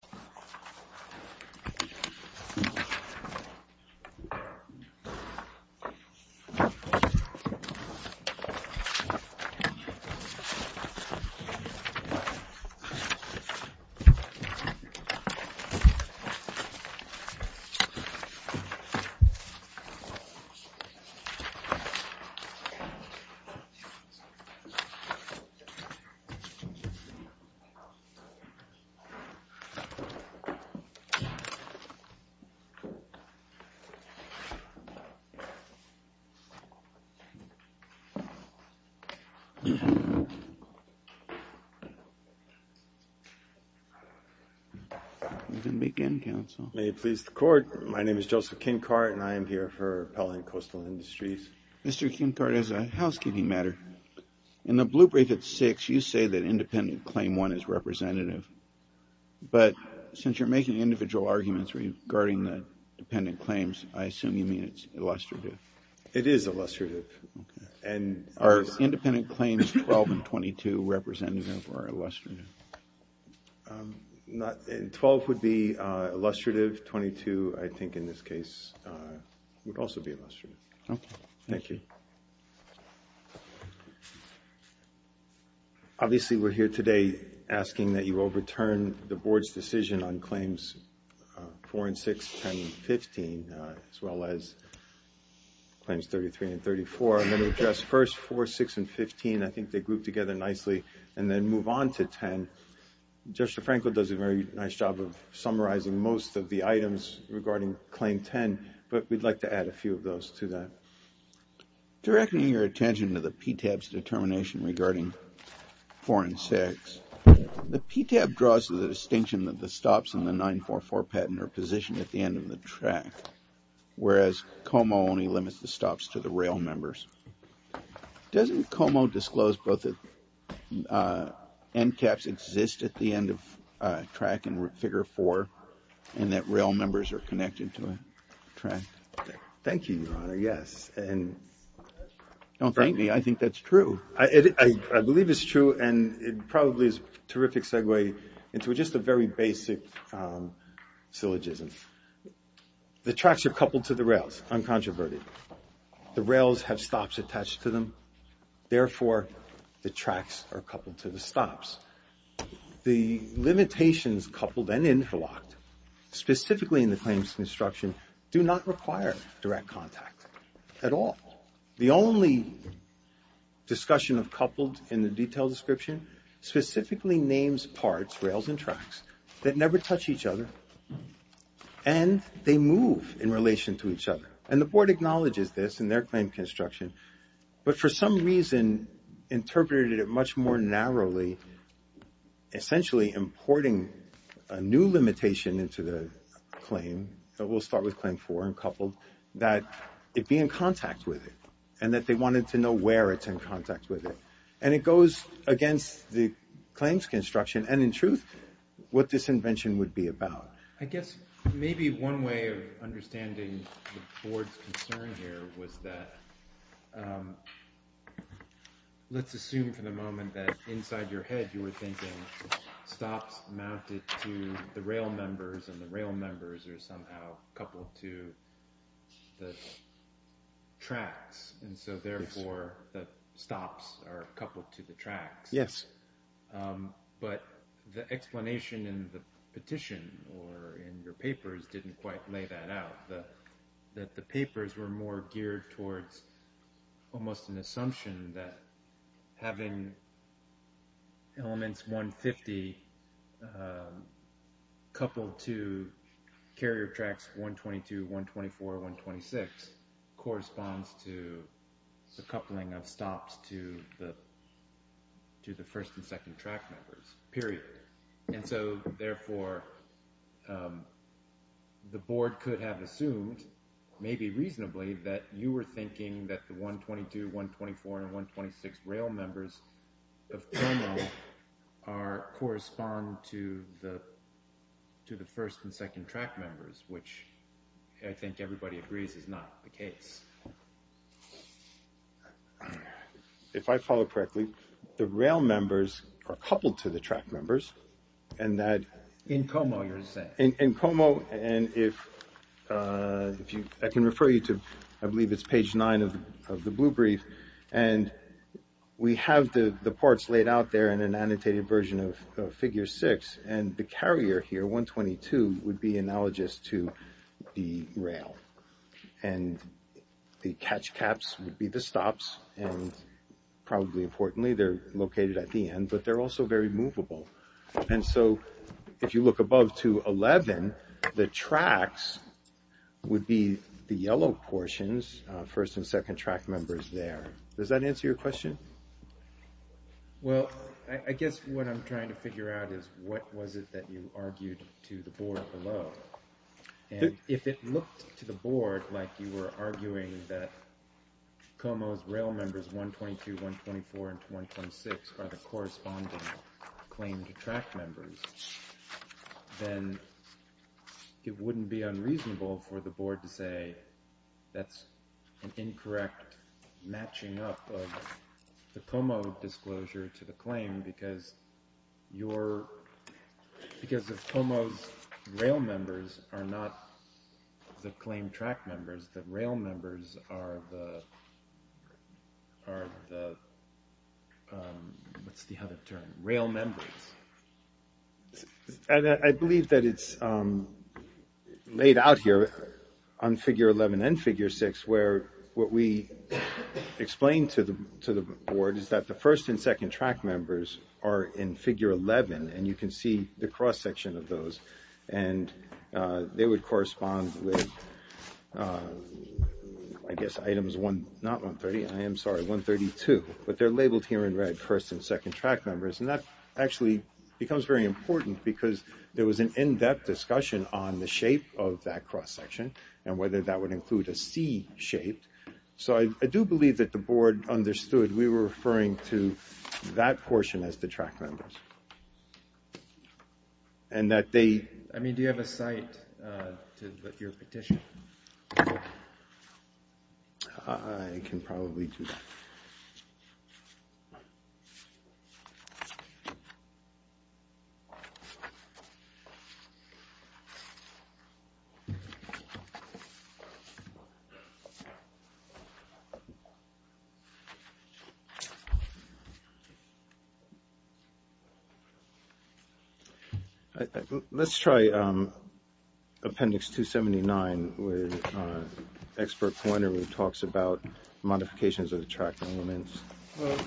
Shower Enclosures America, Inc. v. Shower Enclosures America, Inc. v. Shower Enclosures America, Inc. May it please the Court, my name is Joseph Kincard and I am here for Pelham Coastal Industries. Mr. Kincard, as a housekeeping matter, in the blue brief at 6, you say that independent claim 1 is representative. But since you're making individual arguments regarding the dependent claims, I assume you mean it's illustrative. It is illustrative. Are independent claims 12 and 22 representative or illustrative? Twelve would be illustrative, 22 I think in this case would also be illustrative. Thank you. Obviously, we're here today asking that you overturn the Board's decision on claims 4 and 6, 10 and 15, as well as claims 33 and 34. I'm going to address first 4, 6, and 15. I think they group together nicely and then move on to 10. Judge DeFranco does a very nice job of summarizing most of the items regarding claim 10, but we'd like to add a few of those to that. Directing your attention to the PTAB's determination regarding 4 and 6, the PTAB draws to the distinction that the stops in the 944 patent are positioned at the end of the track, whereas COMO only limits the stops to the rail members. Doesn't COMO disclose both end caps exist at the end of track in figure 4 and that rail members are connected to a track? Thank you, Your Honor, yes. Don't thank me. I think that's true. I believe it's true, and it probably is a terrific segue into just a very basic syllogism. The tracks are coupled to the rails, uncontroverted. The rails have stops attached to them. Therefore, the tracks are coupled to the stops. The limitations coupled and interlocked, specifically in the claims construction, do not require direct contact at all. The only discussion of coupled in the detailed description specifically names parts, rails and tracks, that never touch each other, and they move in relation to each other. And the Board acknowledges this in their claim construction, but for some reason interpreted it much more narrowly, essentially importing a new limitation into the claim. We'll start with claim 4 and coupled, that it be in contact with it, and that they wanted to know where it's in contact with it. And it goes against the claims construction, and in truth, what this invention would be about. I guess maybe one way of understanding the Board's concern here was that, let's assume for the moment that inside your head, you were thinking stops mounted to the rail members, and the rail members are somehow coupled to the tracks. And so therefore, the stops are coupled to the tracks. Yes. But the explanation in the petition or in your papers didn't quite lay that out. That the papers were more geared towards almost an assumption that having elements 150 coupled to carrier tracks 122, 124, 126 corresponds to the coupling of stops to the first and second track members, period. And so therefore, the Board could have assumed, maybe reasonably, that you were thinking that the 122, 124, and 126 rail members correspond to the first and second track members, which I think everybody agrees is not the case. If I follow correctly, the rail members are coupled to the track members, and that... In Como, you're saying. In Como, and if I can refer you to, I believe it's page nine of the blue brief, and we have the parts laid out there in an annotated version of figure six, and the carrier here, 122, would be analogous to the rail. And the catch caps would be the stops, and probably importantly, they're located at the end, but they're also very movable. And so, if you look above to 11, the tracks would be the yellow portions, first and second track members there. Does that answer your question? Well, I guess what I'm trying to figure out is what was it that you argued to the Board below? And if it looked to the Board like you were arguing that Como's rail members, 122, 124, and 126, are the corresponding claim to track members, then it wouldn't be unreasonable for the Board to say that's an incorrect matching up of the Como disclosure to the claim, because of Como's rail members are not the claim track members. The rail members are the, what's the other term? Rail members. I believe that it's laid out here on figure 11 and figure six, where what we explained to the Board is that the first and second track members are in figure 11, and you can see the cross section of those. And they would correspond with, I guess, items one, not 130, I am sorry, 132, but they're labeled here in red, first and second track members. And that actually becomes very important because there was an in-depth discussion on the shape of that cross section and whether that would include a C shape. So I do believe that the Board understood we were referring to that portion as the track members. And that they... I mean, do you have a site to put your petition? I can probably do that. Let's try appendix 279 with expert pointer who talks about modifications of the track elements. Well, it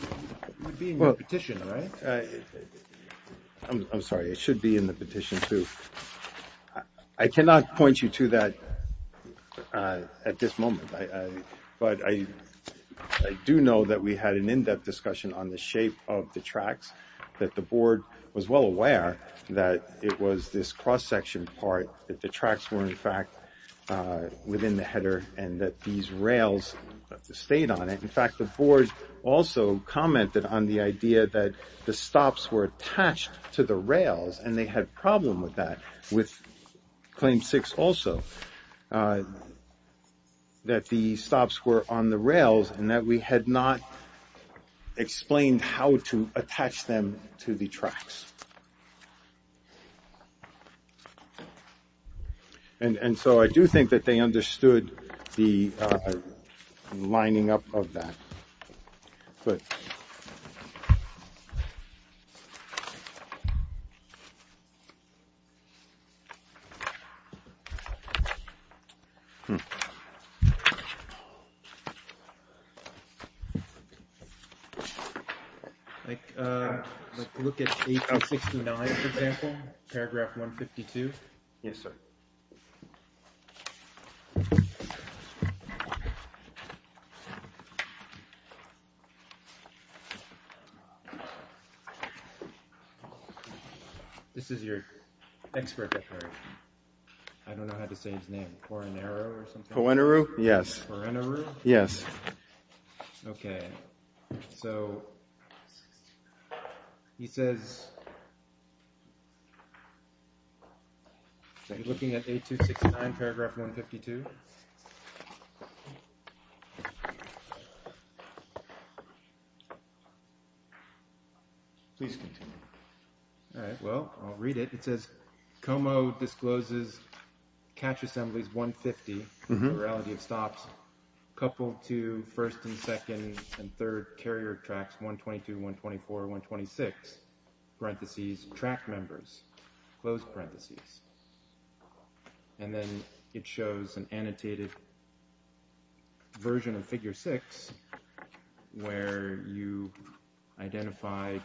would be in your petition, right? I'm sorry, it should be in the petition, too. I cannot point you to that at this moment. But I do know that we had an in-depth discussion on the shape of the tracks, that the Board was well aware that it was this cross section part, that the tracks were, in fact, within the header and that these rails stayed on it. In fact, the Board also commented on the idea that the stops were attached to the rails, and they had a problem with that with Claim 6 also, that the stops were on the rails and that we had not explained how to attach them to the tracks. And so I do think that they understood the lining up of that. Go ahead. Like, look at page 69, for example, paragraph 152. Yes, sir. This is your expert. I don't know how to say his name for an arrow or something. Yes. Yes. Okay. Okay. So he says, looking at 8269, paragraph 152. Please continue. All right. Well, I'll read it. It says, Como discloses catch assemblies 150, plurality of stops, coupled to first and second and third carrier tracks 122, 124, 126, parentheses, track members, closed parentheses. And then it shows an annotated version of figure 6 where you identify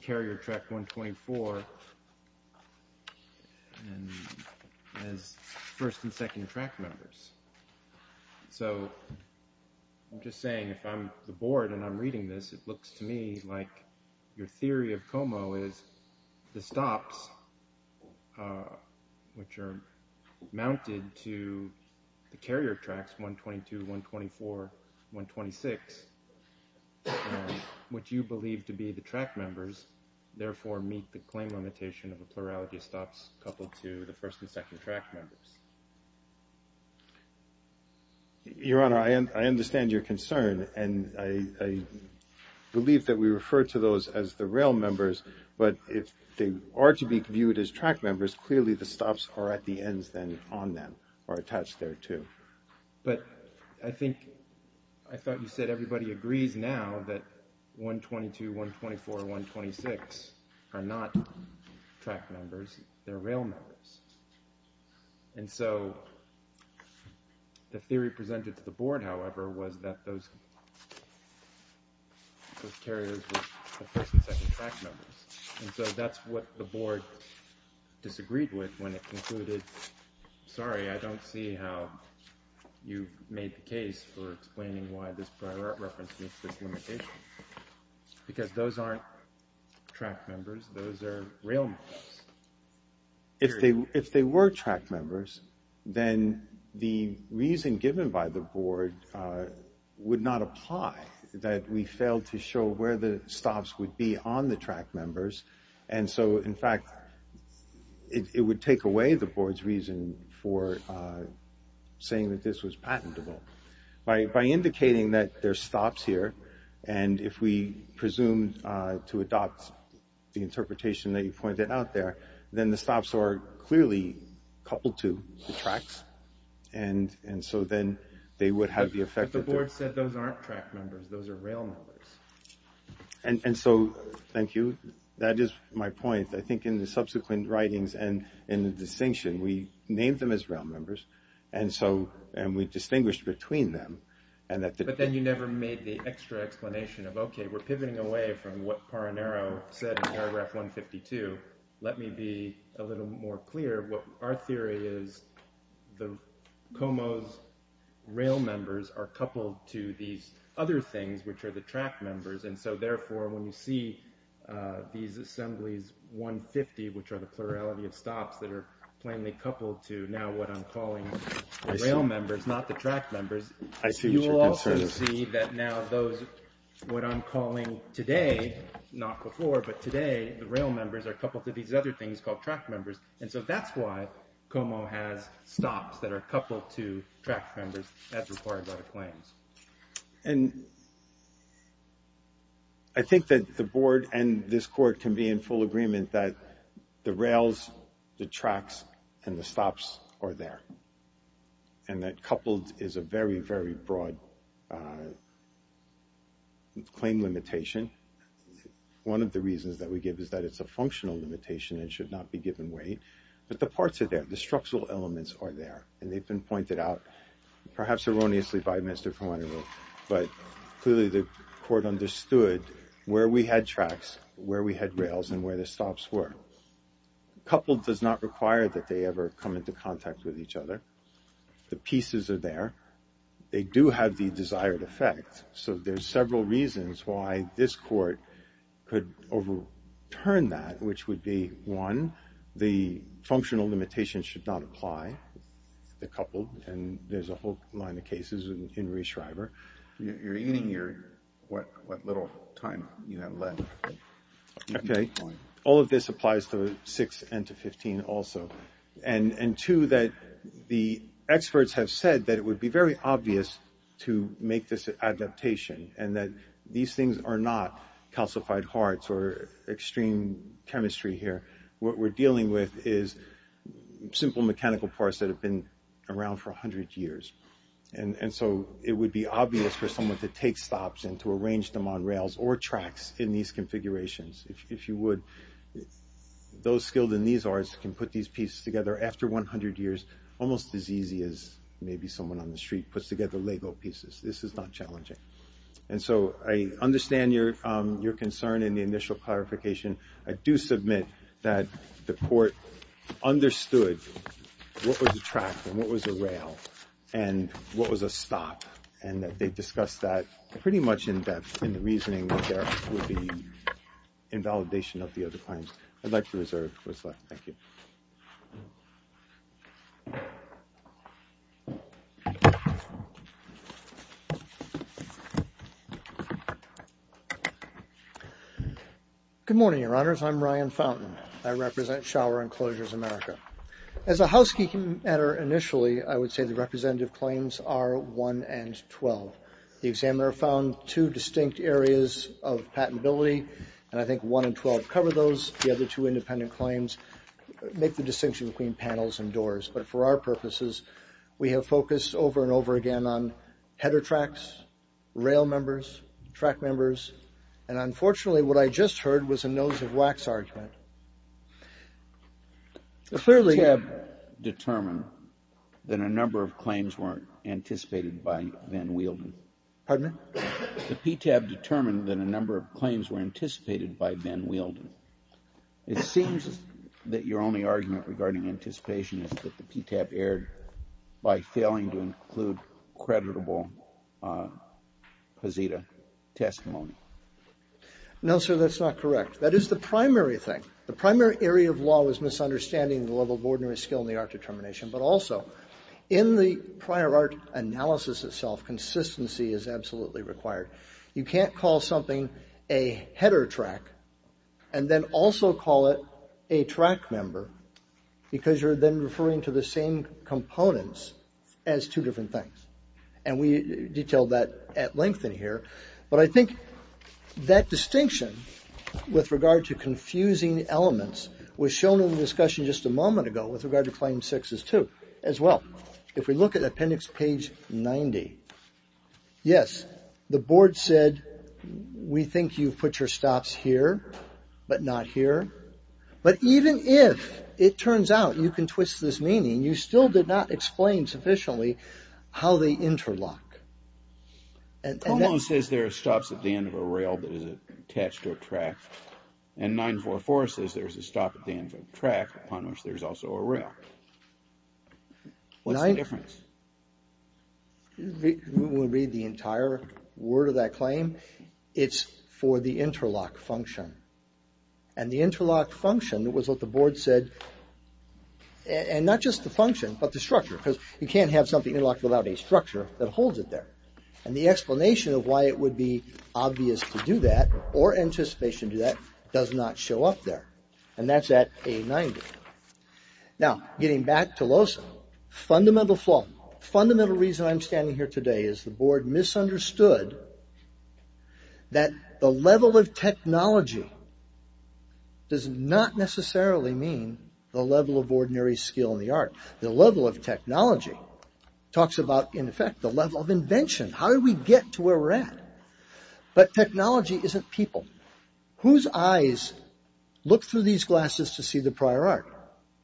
carrier track 124 as first and second track members. So I'm just saying if I'm the board and I'm reading this, it looks to me like your theory of Como is the stops, which are mounted to the carrier tracks 122, 124, 126, which you believe to be the track members, therefore meet the claim limitation of a plurality of stops coupled to the first and second track members. Your Honor, I understand your concern, and I believe that we refer to those as the rail members, but if they are to be viewed as track members, clearly the stops are at the ends then on them or attached there too. But I think I thought you said everybody agrees now that 122, 124, 126 are not track members. They're rail members. And so the theory presented to the board, however, was that those carriers were first and second track members. And so that's what the board disagreed with when it concluded, sorry, I don't see how you made the case for explaining why this reference meets this limitation. Because those aren't track members. Those are rail members. If they were track members, then the reason given by the board would not apply that we failed to show where the stops would be on the track members. And so, in fact, it would take away the board's reason for saying that this was patentable. By indicating that there's stops here, and if we presume to adopt the interpretation that you pointed out there, then the stops are clearly coupled to the tracks. And so then they would have the effect that the board said those aren't track members. Those are rail members. And so, thank you. That is my point. I think in the subsequent writings and in the distinction, we named them as rail members, and we distinguished between them. But then you never made the extra explanation of, okay, we're pivoting away from what Paranaro said in paragraph 152. Let me be a little more clear. Our theory is the COMO's rail members are coupled to these other things, which are the track members. And so, therefore, when you see these assemblies 150, which are the plurality of stops that are plainly coupled to now what I'm calling rail members, not the track members. You will also see that now those, what I'm calling today, not before, but today, the rail members are coupled to these other things called track members. And so that's why COMO has stops that are coupled to track members as required by the claims. And I think that the board and this court can be in full agreement that the rails, the tracks, and the stops are there. And that coupled is a very, very broad claim limitation. One of the reasons that we give is that it's a functional limitation and should not be given weight. But the parts are there. The structural elements are there. And they've been pointed out, perhaps erroneously, by Mr. Caruana. But clearly, the court understood where we had tracks, where we had rails, and where the stops were. Coupled does not require that they ever come into contact with each other. The pieces are there. They do have the desired effect. So there's several reasons why this court could overturn that, which would be, one, the functional limitation should not apply. They're coupled. And there's a whole line of cases in Reischreiber. You're eating your, what little time you have left. Okay. All of this applies to 6 and to 15 also. And two, that the experts have said that it would be very obvious to make this adaptation, and that these things are not calcified hearts or extreme chemistry here. What we're dealing with is simple mechanical parts that have been around for 100 years. And so it would be obvious for someone to take stops and to arrange them on rails or tracks in these configurations. If you would, those skilled in these arts can put these pieces together after 100 years, almost as easy as maybe someone on the street puts together Lego pieces. This is not challenging. And so I understand your concern in the initial clarification. I do submit that the court understood what was a track and what was a rail and what was a stop, and that they discussed that pretty much in depth in the reasoning that there would be invalidation of the other claims. I'd like to reserve what's left. Thank you. Good morning, Your Honors. I'm Ryan Fountain. I represent Shower Enclosures America. As a housekeeping matter initially, I would say the representative claims are 1 and 12. The examiner found two distinct areas of patentability, and I think 1 and 12 cover those. The other two independent claims make the distinction between panels and doors. But for our purposes, we have focused over and over again on header tracks, rail members, track members, and unfortunately what I just heard was a nose of wax argument. The PTAB determined that a number of claims were anticipated by Ben Wielden. Pardon me? The PTAB determined that a number of claims were anticipated by Ben Wielden. It seems that your only argument regarding anticipation is that the PTAB erred by failing to include creditable Posita testimony. No, sir, that's not correct. That is the primary thing. The primary area of law is misunderstanding the level of ordinary skill in the art determination, but also in the prior art analysis itself, consistency is absolutely required. You can't call something a header track and then also call it a track member because you're then referring to the same components as two different things. And we detailed that at length in here. But I think that distinction with regard to confusing elements was shown in the discussion just a moment ago with regard to Claim 6-2 as well. If we look at Appendix page 90, yes, the board said we think you've put your stops here, but not here. But even if it turns out you can twist this meaning, you still did not explain sufficiently how they interlock. Como says there are stops at the end of a rail that is attached to a track, and 9-4-4 says there's a stop at the end of a track upon which there's also a rail. What's the difference? When we read the entire word of that claim, it's for the interlock function. And the interlock function was what the board said, and not just the function, but the structure. Because you can't have something interlocked without a structure that holds it there. And the explanation of why it would be obvious to do that, or anticipation to do that, does not show up there. And that's at A-90. Now, getting back to LOSA, fundamental flaw. Does not necessarily mean the level of ordinary skill in the art. The level of technology talks about, in effect, the level of invention. How do we get to where we're at? But technology isn't people. Whose eyes look through these glasses to see the prior art?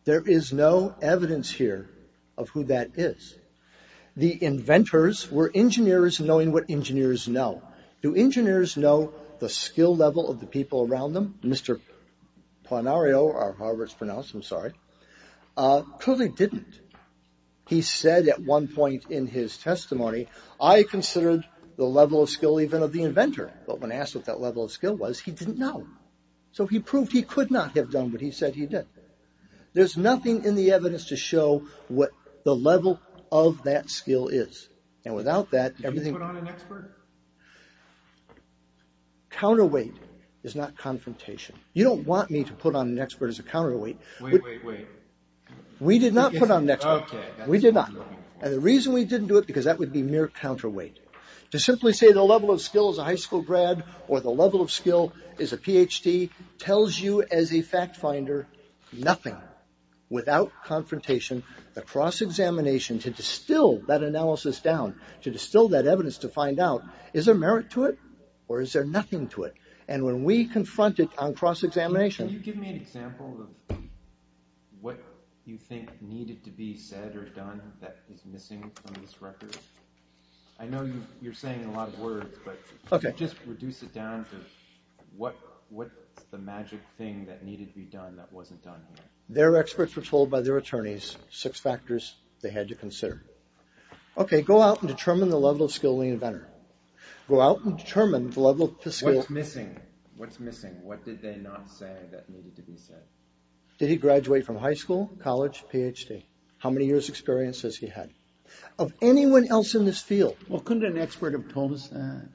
There is no evidence here of who that is. The inventors were engineers knowing what engineers know. Do engineers know the skill level of the people around them? Mr. Ponario, or however it's pronounced, I'm sorry, clearly didn't. He said at one point in his testimony, I considered the level of skill even of the inventor. But when asked what that level of skill was, he didn't know. So he proved he could not have done what he said he did. There's nothing in the evidence to show what the level of that skill is. And without that, everything... Did you put on an expert? Counterweight is not confrontation. You don't want me to put on an expert as a counterweight. Wait, wait, wait. We did not put on an expert. Okay. We did not. And the reason we didn't do it, because that would be mere counterweight. To simply say the level of skill is a high school grad, or the level of skill is a Ph.D., tells you as a fact finder nothing. Without confrontation, the cross-examination to distill that analysis down, to distill that evidence to find out, is there merit to it, or is there nothing to it? And when we confront it on cross-examination... Can you give me an example of what you think needed to be said or done that is missing from this record? I know you're saying a lot of words, but just reduce it down to what's the magic thing that needed to be done that wasn't done here? Their experts were told by their attorneys six factors they had to consider. Okay. Go out and determine the level of skill in the inventor. Go out and determine the level of skill... What's missing? What's missing? What did they not say that needed to be said? Did he graduate from high school, college, Ph.D.? How many years' experience has he had? Of anyone else in this field. Well, couldn't an expert have told us that?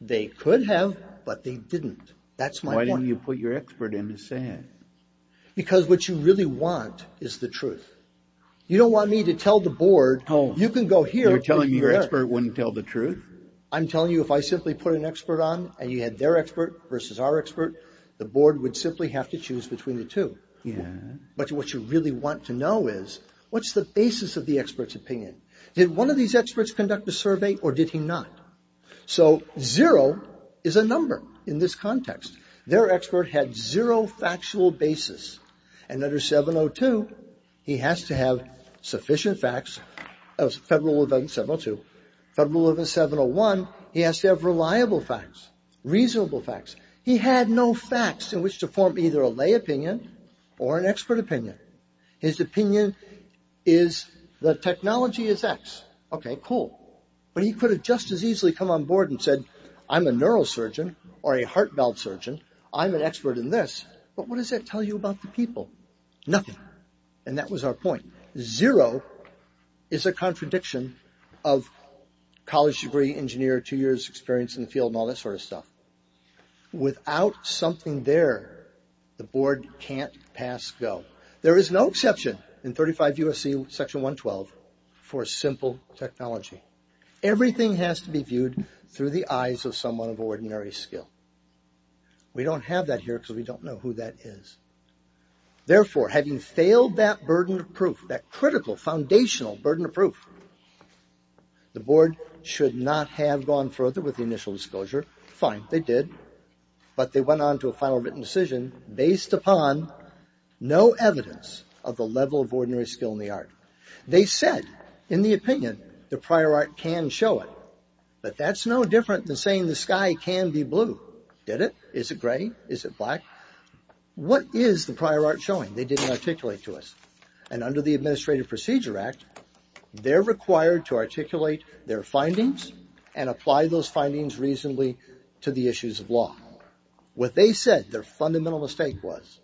They could have, but they didn't. That's my point. Because what you really want is the truth. You don't want me to tell the board... You're telling me your expert wouldn't tell the truth? I'm telling you if I simply put an expert on, and you had their expert versus our expert, the board would simply have to choose between the two. But what you really want to know is, what's the basis of the expert's opinion? Did one of these experts conduct a survey, or did he not? So, zero is a number in this context. Their expert had zero factual basis. And under 702, he has to have sufficient facts. Federal Rule of 702. Federal Rule of 701, he has to have reliable facts, reasonable facts. He had no facts in which to form either a lay opinion or an expert opinion. His opinion is, the technology is X. Okay, cool. But he could have just as easily come on board and said, I'm a neurosurgeon, or a heart valve surgeon. I'm an expert in this. But what does that tell you about the people? Nothing. And that was our point. Zero is a contradiction of college degree, engineer, two years experience in the field, and all that sort of stuff. Without something there, the board can't pass Go. There is no exception in 35 U.S.C. Section 112 for simple technology. Everything has to be viewed through the eyes of someone of ordinary skill. We don't have that here because we don't know who that is. Therefore, having failed that burden of proof, that critical foundational burden of proof, the board should not have gone further with the initial disclosure. Fine, they did. But they went on to a final written decision based upon no evidence of the level of ordinary skill in the art. They said, in the opinion, the prior art can show it. But that's no different than saying the sky can be blue. Did it? Is it gray? Is it black? What is the prior art showing? They didn't articulate to us. And under the Administrative Procedure Act, they're required to articulate their findings and apply those findings reasonably to the issues of law. What they said, their fundamental mistake was,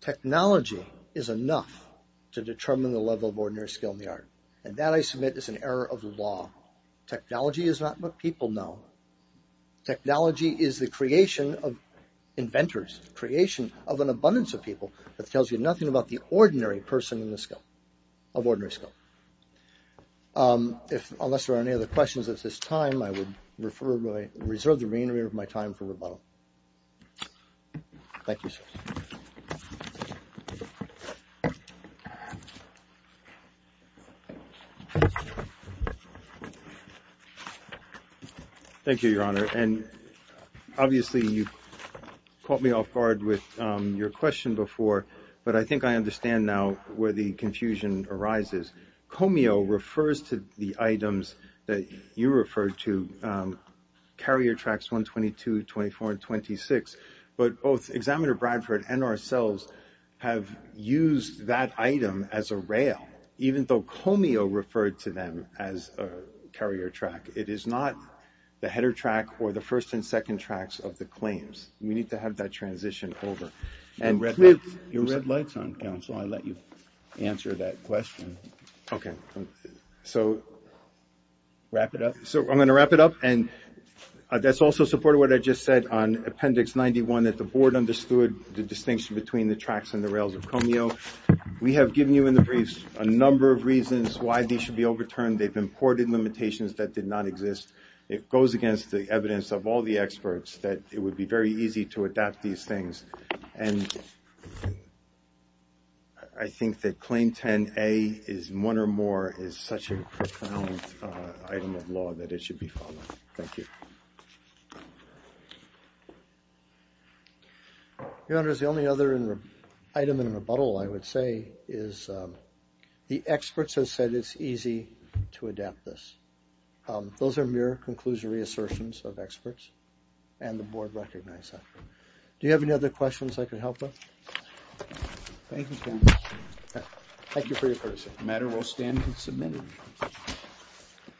technology is enough to determine the level of ordinary skill in the art. And that, I submit, is an error of the law. Technology is not what people know. Technology is the creation of inventors, the creation of an abundance of people that tells you nothing about the ordinary person of ordinary skill. Unless there are any other questions at this time, I would reserve the remainder of my time for rebuttal. Thank you, sir. Thank you, Your Honor. And obviously, you caught me off guard with your question before, but I think I understand now where the confusion arises. Comeo refers to the items that you referred to, carrier tracks 122, 24, and 26. But both Examiner Bradford and ourselves have used that item as a rail, even though Comeo referred to them as a carrier track. It is not the header track or the first and second tracks of the claims. We need to have that transition over. Your red light's on, Counsel, I let you answer that question. Okay. So, wrap it up? So, I'm going to wrap it up. And that's also supported what I just said on Appendix 91, that the Board understood the distinction between the tracks and the rails of Comeo. We have given you in the briefs a number of reasons why these should be overturned. They've imported limitations that did not exist. It goes against the evidence of all the experts that it would be very easy to adapt these things. And I think that Claim 10A is one or more is such a profound item of law that it should be followed. Thank you. Your Honor, the only other item in rebuttal, I would say, is the experts have said it's easy to adapt this. Those are mere conclusory assertions of experts, and the Board recognizes that. Do you have any other questions I can help with? Thank you, Your Honor. Thank you for your courtesy.